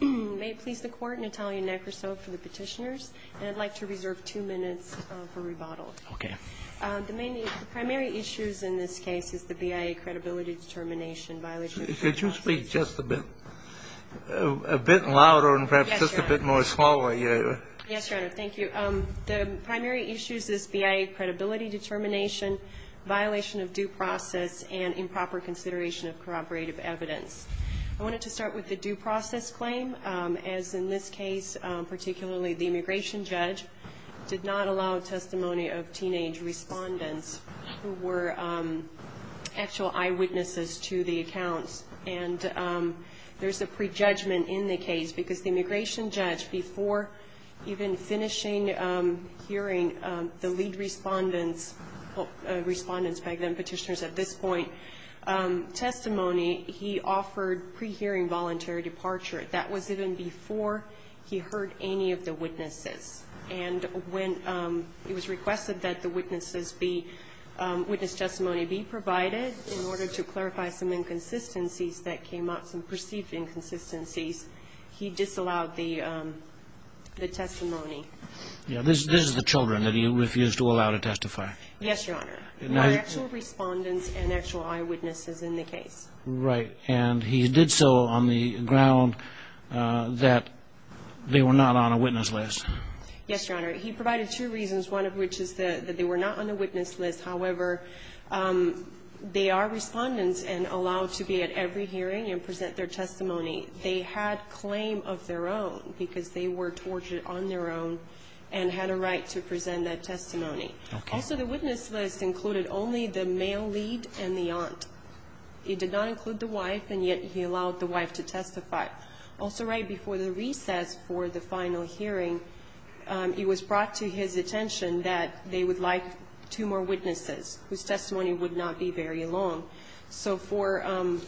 May it please the Court, Natalia Nekrasov for the Petitioners, and I'd like to reserve two minutes for rebuttal. The primary issues in this case is the BIA credibility determination violation of due process. Could you speak just a bit louder and perhaps just a bit more slowly? Yes, Your Honor. Thank you. The primary issues is BIA credibility determination, violation of due process, and improper consideration of corroborative evidence. I wanted to start with the due process claim, as in this case, particularly, the immigration judge did not allow testimony of teenage respondents who were actual eyewitnesses to the accounts. And there's a prejudgment in the case, because the immigration judge, before even finishing hearing the lead respondents, respondents back then, petitioners at this point, testimony, he offered pre-hearing voluntary departure. That was even before he heard any of the witnesses. And when it was requested that the witnesses be, witness testimony be provided in order to clarify some inconsistencies that came up, some perceived inconsistencies, he disallowed the testimony. Yeah. This is the children that he refused to allow to testify. Yes, Your Honor. No actual respondents and actual eyewitnesses in the case. Right. And he did so on the ground that they were not on a witness list. Yes, Your Honor. He provided two reasons, one of which is that they were not on the witness list. However, they are respondents and allowed to be at every hearing and present their testimony. They had claim of their own, because they were tortured on their own and had a right to present that testimony. Okay. So the witness list included only the male lead and the aunt. It did not include the wife, and yet he allowed the wife to testify. Also right before the recess for the final hearing, it was brought to his attention that they would like two more witnesses whose testimony would not be very long. So for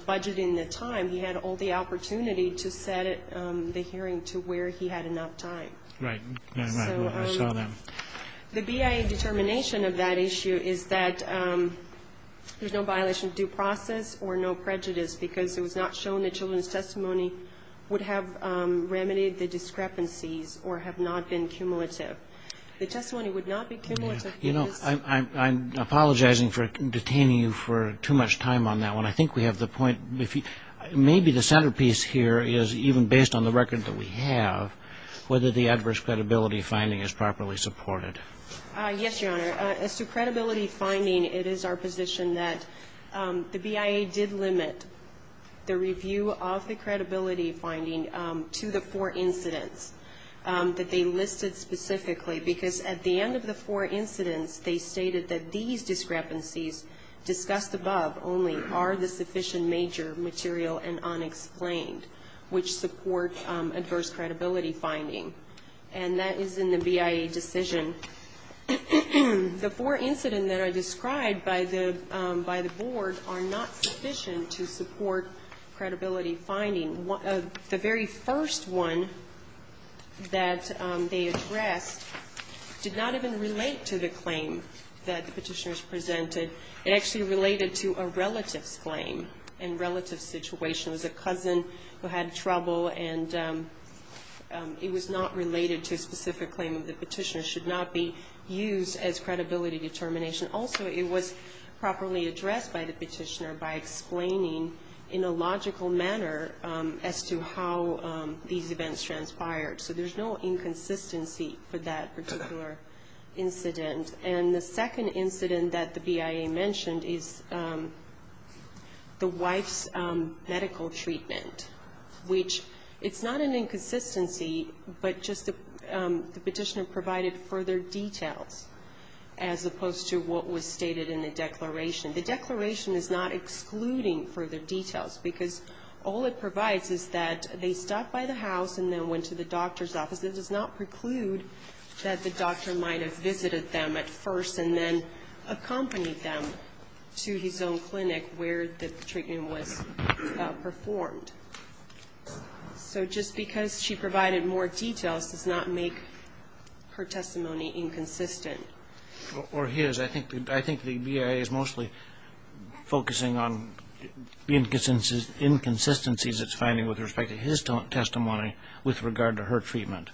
budgeting the time, he had all the opportunity to set the hearing to where he had enough time. Right. I saw that. The BIA determination of that issue is that there's no violation of due process or no prejudice, because it was not shown that children's testimony would have remedied the discrepancies or have not been cumulative. The testimony would not be cumulative. You know, I'm apologizing for detaining you for too much time on that one. I think we have the point. Maybe the centerpiece here is even based on the record that we have, whether the adverse credibility finding is properly supported. Yes, Your Honor. As to credibility finding, it is our position that the BIA did limit the review of the credibility finding to the four incidents that they listed specifically, because at the end of the four incidents, they stated that these discrepancies discussed above only are the sufficient major material and unexplained, which support adverse credibility finding. And that is in the BIA decision. The four incidents that are described by the board are not sufficient to support credibility finding. The very first one that they addressed did not even relate to the claim that the petitioners presented. It actually related to a relative's claim and relative situation. It was a cousin who had trouble, and it was not related to a specific claim that the petitioner should not be used as credibility determination. Also, it was properly addressed by the petitioner by explaining in a logical manner as to how these events transpired. So there's no inconsistency for that particular incident. And the second incident that the BIA mentioned is the wife's medical treatment, which it's not an inconsistency, but just the petitioner provided further details as opposed to what was stated in the declaration. The declaration is not excluding further details, because all it provides is that they stopped by the house and then went to the doctor's office. It does not preclude that the doctor might have visited them at first and then accompanied them to his own clinic where the treatment was performed. So just because she provided more details does not make her testimony inconsistent. Or his. I think the BIA is mostly focusing on the inconsistencies it's finding with respect to his testimony with regard to her treatment.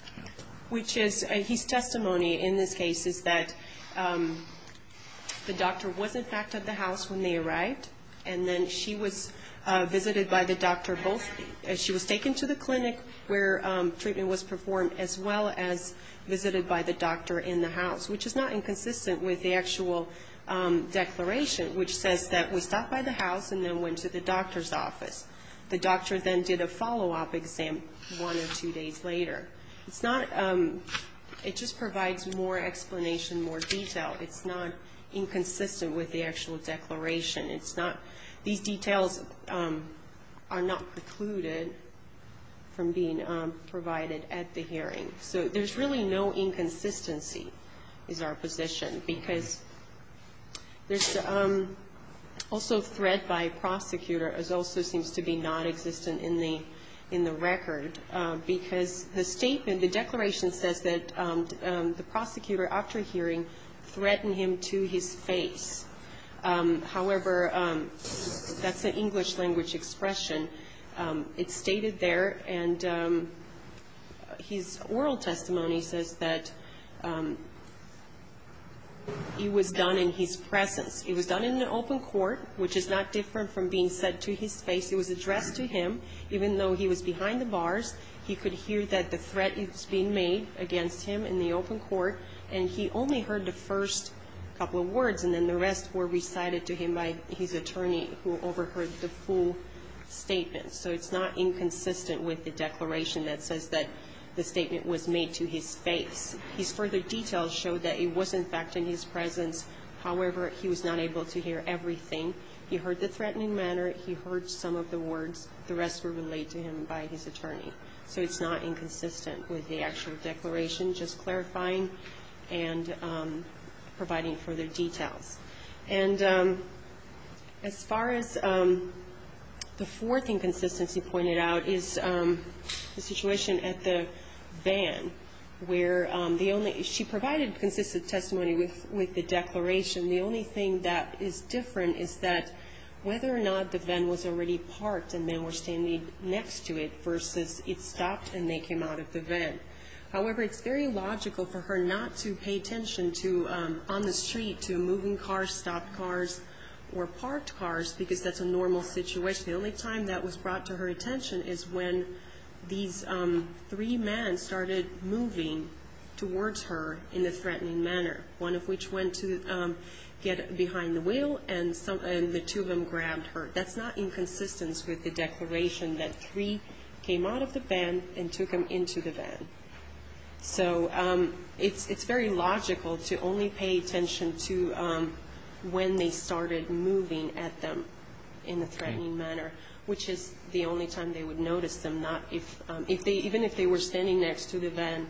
Which is, his testimony in this case is that the doctor was in fact at the house when they arrived, and then she was visited by the doctor both, she was taken to the clinic where treatment was performed as well as visited by the doctor in the house, which is not inconsistent with the actual declaration, which says that we stopped by the house and then went to the doctor's office. The doctor then did a follow-up exam one or two days later. It's not, it just provides more explanation, more detail. It's not inconsistent with the actual declaration. It's not, these details are not precluded from being provided at the hearing. So there's really no inconsistency is our position. Because there's also threat by prosecutor, which also seems to be non-existent in the record. Because the statement, the declaration says that the prosecutor after hearing threatened him to his face. However, that's an English language expression. It's stated there, and his oral testimony says that it was done in his presence. It was done in an open court, which is not different from being said to his face. It was addressed to him, even though he was behind the bars. He could hear that the threat is being made against him in the open court, and he only heard the first couple of words, and then the rest were recited to him by his attorney, who overheard the full statement. So it's not inconsistent with the declaration that says that the statement was made to his face. His further details show that it was, in fact, in his presence. However, he was not able to hear everything. He heard the threatening manner, he heard some of the words, the rest were relayed to him by his attorney. So it's not inconsistent with the actual declaration, just clarifying and providing further details. And as far as the fourth inconsistency pointed out, is the situation at the van, where she provided consistent testimony with the declaration. The only thing that is different is that whether or not the van was already parked and men were standing next to it, versus it stopped and they came out of the van. However, it's very logical for her not to pay attention to, on the street, to moving cars, stopped cars, or parked cars, because that's a normal situation. The only time that was brought to her attention is when these three men started moving towards her in a threatening manner. One of which went to get behind the wheel, and the two of them grabbed her. That's not inconsistent with the declaration that three came out of the van and two came into the van. So it's very logical to only pay attention to when they started moving at them in a threatening manner, which is the only time they would notice them. Even if they were standing next to the van,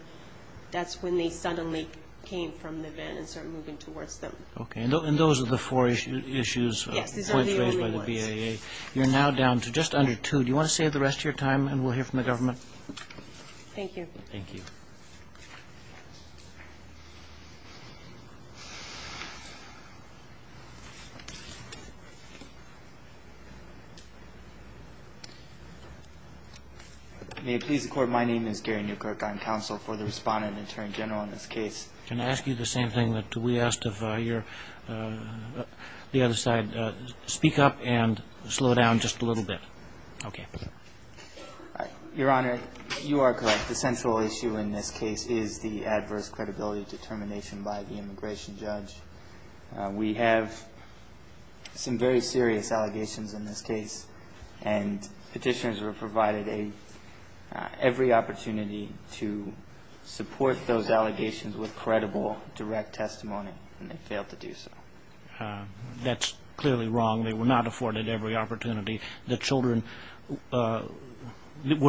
that's when they suddenly came from the van and started moving towards them. Okay, and those are the four issues raised by the BAA. You're now down to just under two. Do you want to save the rest of your time and we'll hear from the government? Thank you. Thank you. May it please the Court, my name is Gary Newkirk. I'm counsel for the Respondent Attorney General in this case. Can I ask you the same thing that we asked of the other side? Speak up and slow down just a little bit. Okay. Your Honor, you are correct. The central issue in this case is the adverse credibility determination by the immigration judge. We have some very serious allegations in this case and petitioners were provided every opportunity to support those allegations with credible, direct testimony and they failed to do so. That's clearly wrong. They were not afforded every opportunity. The children were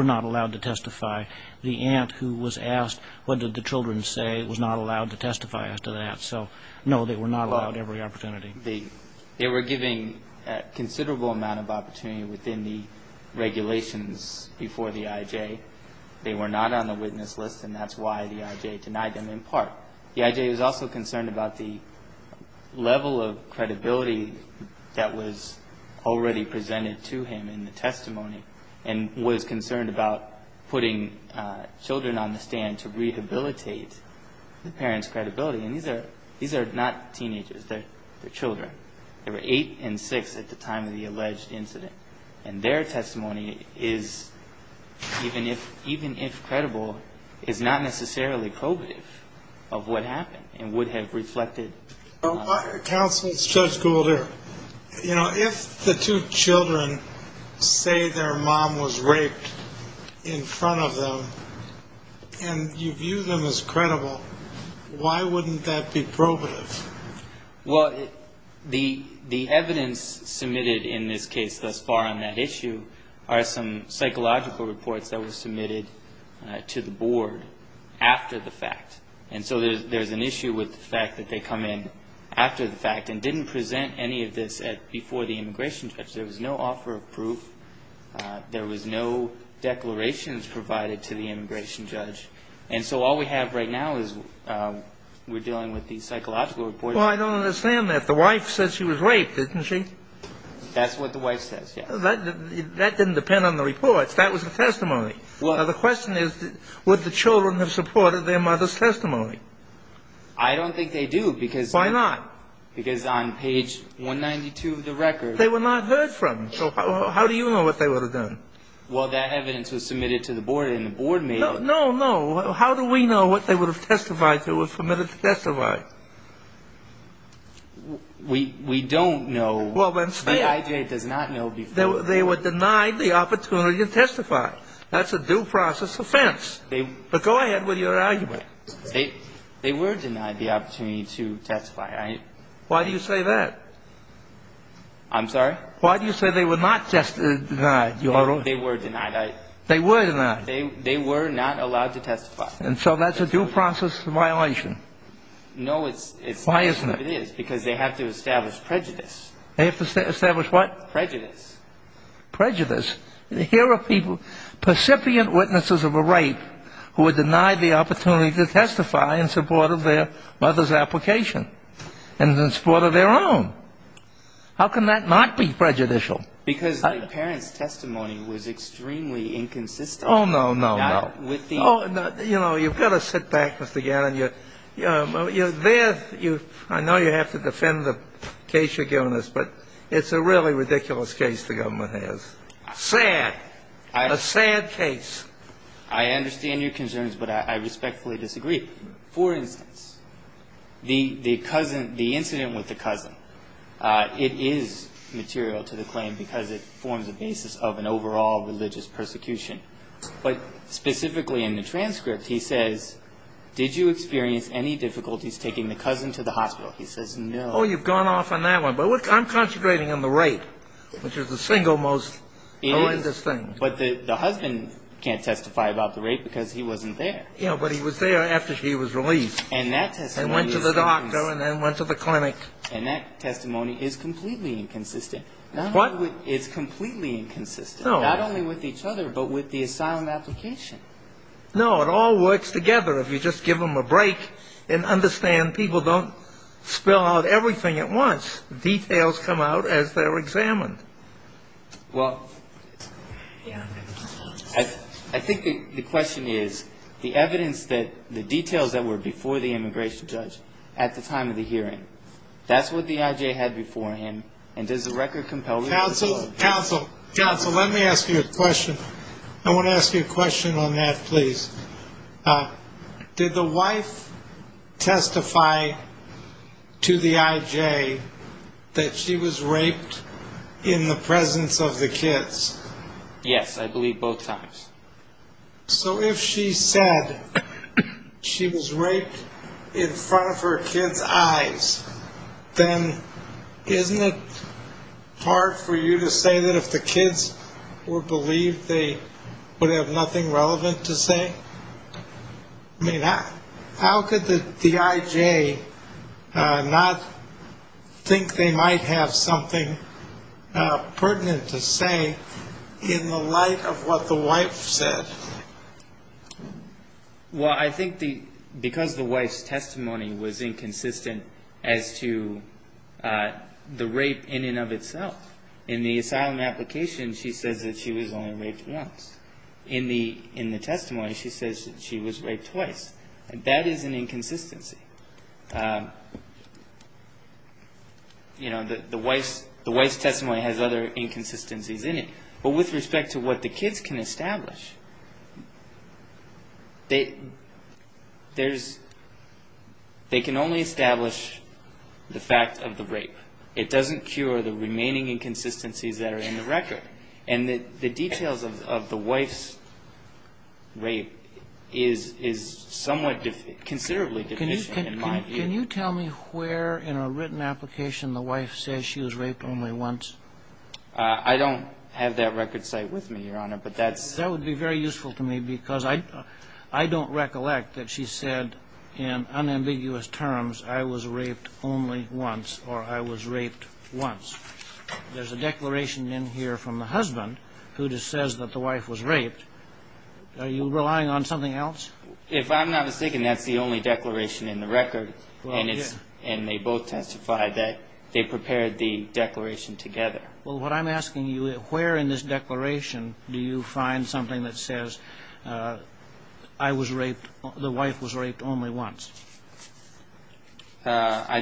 not allowed to testify. The aunt who was asked what did the children say was not allowed to testify after that. So, no, they were not allowed every opportunity. They were given a considerable amount of opportunity within the regulations before the IJ. They were not on the witness list and that's why the IJ denied them in part. The IJ was also concerned about the level of credibility that was already presented to him in the testimony and was concerned about putting children on the stand to rehabilitate the parents' credibility. And these are not teenagers. They're children. They were eight and six at the time of the alleged incident. And their testimony is, even if credible, is not necessarily probative of what happened and would have reflected. Counsel, it's Judge Gould here. You know, if the two children say their mom was raped in front of them and you view them as credible, why wouldn't that be probative? Well, the evidence submitted in this case thus far on that issue are some psychological reports that were submitted to the board after the fact. And so there's an issue with the fact that they come in after the fact and didn't present any of this before the immigration judge. There was no offer of proof. There was no declarations provided to the immigration judge. And so all we have right now is we're dealing with these psychological reports. Well, I don't understand that. The wife said she was raped, didn't she? That's what the wife says, yes. That didn't depend on the reports. That was the testimony. Now, the question is, would the children have supported their mother's testimony? I don't think they do because on page 192 of the record. They were not heard from. So how do you know what they would have done? Well, that evidence was submitted to the board and the board made it. No, no. How do we know what they would have testified to or submitted to testify? We don't know. Well, then say it. The IJA does not know before. They were denied the opportunity to testify. That's a due process offense. But go ahead with your argument. They were denied the opportunity to testify. Why do you say that? I'm sorry? Why do you say they were not just denied? They were denied. They were denied. They were not allowed to testify. And so that's a due process violation. No, it's not. Why isn't it? Because they have to establish prejudice. They have to establish what? Prejudice. Prejudice. Here are people, percipient witnesses of a rape who were denied the opportunity to testify in support of their mother's application and in support of their own. How can that not be prejudicial? Because the parent's testimony was extremely inconsistent. Oh, no, no, no. You've got to sit back, Mr. Gannon. I know you have to defend the case you're giving us, but it's a really ridiculous case the government has. Sad. A sad case. I understand your concerns, but I respectfully disagree. For instance, the incident with the cousin, it is material to the claim because it forms a basis of an overall religious persecution. But specifically in the transcript, he says, did you experience any difficulties taking the cousin to the hospital? He says, no. Oh, you've gone off on that one. But I'm concentrating on the rape, which is the single most religious thing. But the husband can't testify about the rape because he wasn't there. Yeah, but he was there after she was released and went to the doctor and then went to the clinic. And that testimony is completely inconsistent. What? It's completely inconsistent. No. Not only with each other, but with the asylum application. No, it all works together if you just give them a break and understand people don't spell out everything at once. Details come out as they're examined. Well, I think the question is, the evidence that the details that were before the immigration judge at the time of the hearing, that's what the IJ had before him, and does the record compel you to disclose? Counsel, counsel, let me ask you a question. I want to ask you a question on that, please. Did the wife testify to the IJ that she was raped in the presence of the kids? Yes, I believe both times. So if she said she was raped in front of her kids' eyes, then isn't it hard for you to say that if the kids were believed they would have nothing relevant to say? I mean, how could the IJ not think they might have something pertinent to say in the light of what the wife said? Well, I think because the wife's testimony was inconsistent as to the rape in and of itself. In the asylum application, she says that she was only raped once. In the testimony, she says that she was raped twice. That is an inconsistency. You know, the wife's testimony has other inconsistencies in it. But with respect to what the kids can establish, they can only establish the fact of the rape. It doesn't cure the remaining inconsistencies that are in the record. And the details of the wife's rape is somewhat considerably deficient in my view. Can you tell me where in a written application the wife says she was raped only once? I don't have that record site with me, Your Honor, but that's... That would be very useful to me because I don't recollect that she said in unambiguous terms, I was raped only once or I was raped once. There's a declaration in here from the husband who just says that the wife was raped. Are you relying on something else? If I'm not mistaken, that's the only declaration in the record. Well, it is. And they both testify that they prepared the declaration together. Well, what I'm asking you, where in this declaration do you find something that says, I was raped, the wife was raped only once? I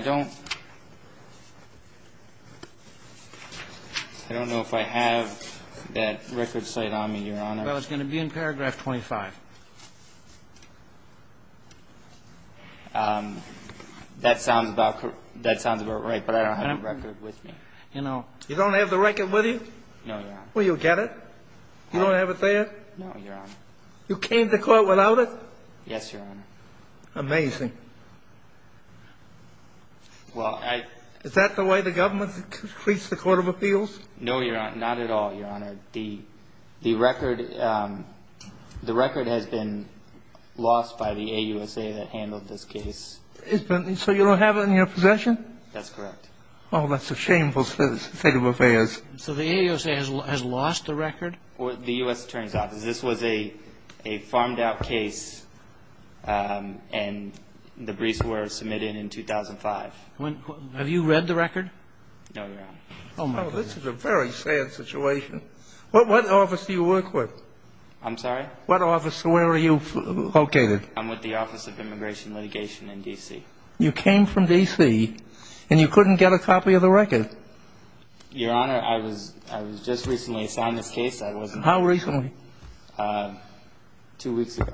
don't know if I have that record site on me, Your Honor. Well, it's going to be in paragraph 25. That sounds about right, but I don't have the record with me. You don't have the record with you? No, Your Honor. Well, you'll get it? You don't have it there? No, Your Honor. You came to court without it? Yes, Your Honor. Amazing. Is that the way the government treats the court of appeals? No, Your Honor. Not at all, Your Honor. The record has been lost by the AUSA that handled this case. So you don't have it in your possession? That's correct. Oh, that's a shameful state of affairs. So the AUSA has lost the record? The U.S. Attorney's Office. This was a farmed-out case, and the briefs were submitted in 2005. Have you read the record? No, Your Honor. Oh, this is a very sad situation. What office do you work with? I'm sorry? What office? Where are you located? I'm with the Office of Immigration Litigation in D.C. You came from D.C., and you couldn't get a copy of the record? Your Honor, I was just recently assigned this case. How recently? Two weeks ago.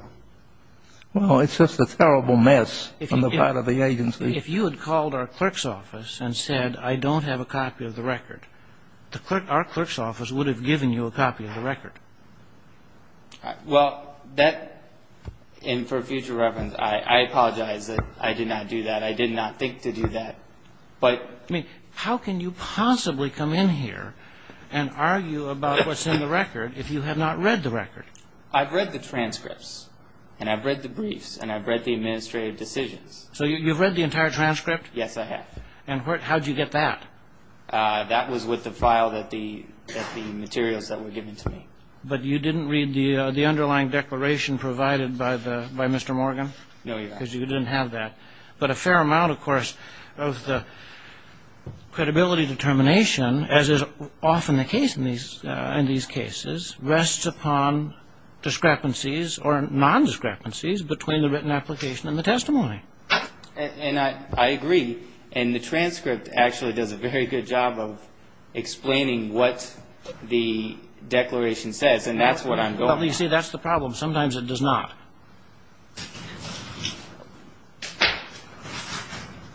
Well, it's just a terrible mess on the part of the agency. If you had called our clerk's office and said, I don't have a copy of the record, our clerk's office would have given you a copy of the record. Well, that, and for future reference, I apologize that I did not do that. I did not think to do that. How can you possibly come in here and argue about what's in the record if you have not read the record? I've read the transcripts, and I've read the briefs, and I've read the administrative decisions. So you've read the entire transcript? Yes, I have. And how did you get that? That was with the file that the materials that were given to me. But you didn't read the underlying declaration provided by Mr. Morgan? No, Your Honor. Because you didn't have that. But a fair amount, of course, of the credibility determination, as is often the case in these cases, rests upon discrepancies or nondiscrepancies between the written application and the testimony. And I agree. And the transcript actually does a very good job of explaining what the declaration says, and that's what I'm going with. Well, you see, that's the problem. Sometimes it does not.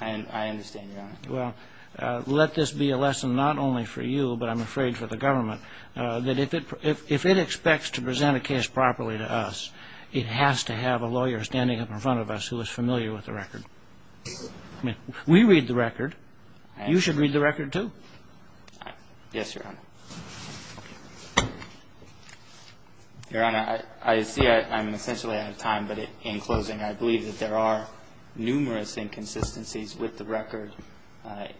I understand, Your Honor. Well, let this be a lesson not only for you, but I'm afraid for the government, that if it expects to present a case properly to us, it has to have a lawyer standing up in front of us who is familiar with the record. We read the record. You should read the record, too. Yes, Your Honor. Your Honor, I see I'm essentially out of time, but in closing, I believe that there are numerous inconsistencies with the record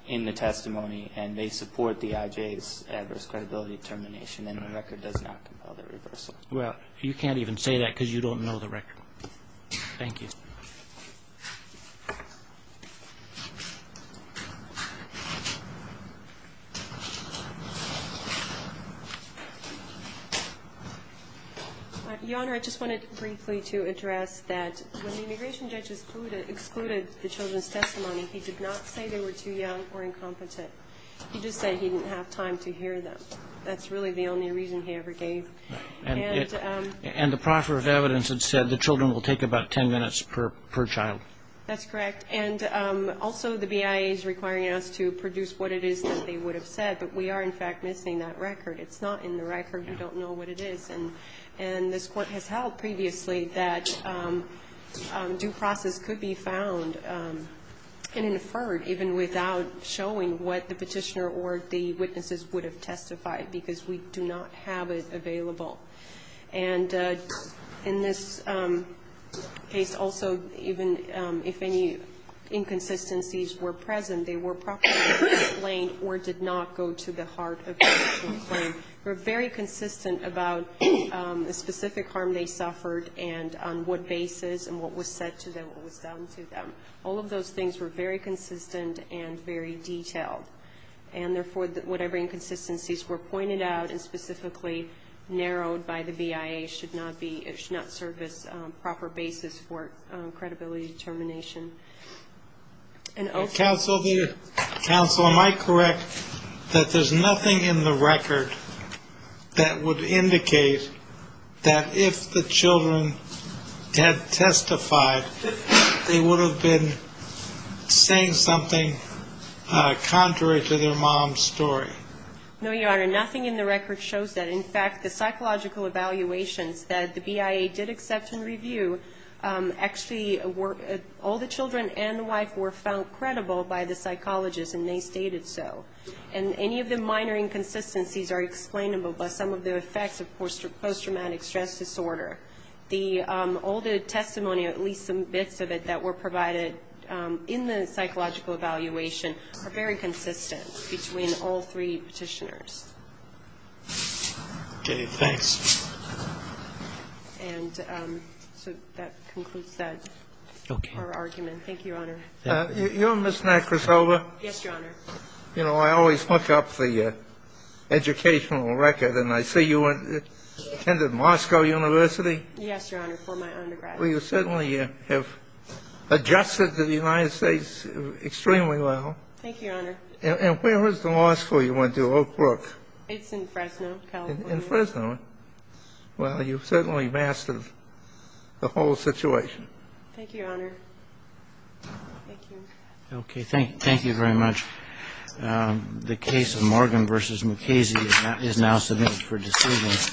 in the testimony, and they support the IJ's adverse credibility determination, and the record does not compel the reversal. Well, you can't even say that because you don't know the record. Thank you. Your Honor, I just wanted briefly to address that when the immigration judge excluded the children's testimony, he did not say they were too young or incompetent. He just said he didn't have time to hear them. That's really the only reason he ever gave. And the proffer of evidence had said the children will take about 10 minutes per child. That's correct, and also the BIA is requiring us to produce what it is that they would have said, but we are, in fact, missing that record. It's not in the record. We don't know what it is, and this Court has held previously that due process could be found and inferred even without showing what the petitioner or the witnesses would have testified because we do not have it available. And in this case, also, even if any inconsistencies were present, they were properly explained or did not go to the heart of the actual claim. They were very consistent about the specific harm they suffered and on what basis and what was said to them, what was done to them. All of those things were very consistent and very detailed, and therefore whatever inconsistencies were pointed out and specifically narrowed by the BIA should not be or should not serve as a proper basis for credibility determination. Counsel, am I correct that there's nothing in the record that would indicate that if the children had testified, they would have been saying something contrary to their mom's story? No, Your Honor. Nothing in the record shows that. In fact, the psychological evaluations that the BIA did accept and review, actually all the children and the wife were found credible by the psychologist and they stated so. And any of the minor inconsistencies are explainable by some of the effects, of course, of post-traumatic stress disorder. All the testimony, or at least some bits of it, that were provided in the psychological evaluation are very consistent between all three Petitioners. Okay. Thanks. And so that concludes our argument. Thank you, Your Honor. You know, Ms. Nacrasova. Yes, Your Honor. You know, I always look up the educational record and I see you attended Moscow University. Yes, Your Honor, for my undergrad. Well, you certainly have adjusted to the United States extremely well. Thank you, Your Honor. And where was the law school you went to, Oak Brook? It's in Fresno, California. In Fresno. Well, you've certainly mastered the whole situation. Thank you, Your Honor. Thank you. Okay. Thank you very much. The case of Morgan v. Mukasey is now submitted for decision.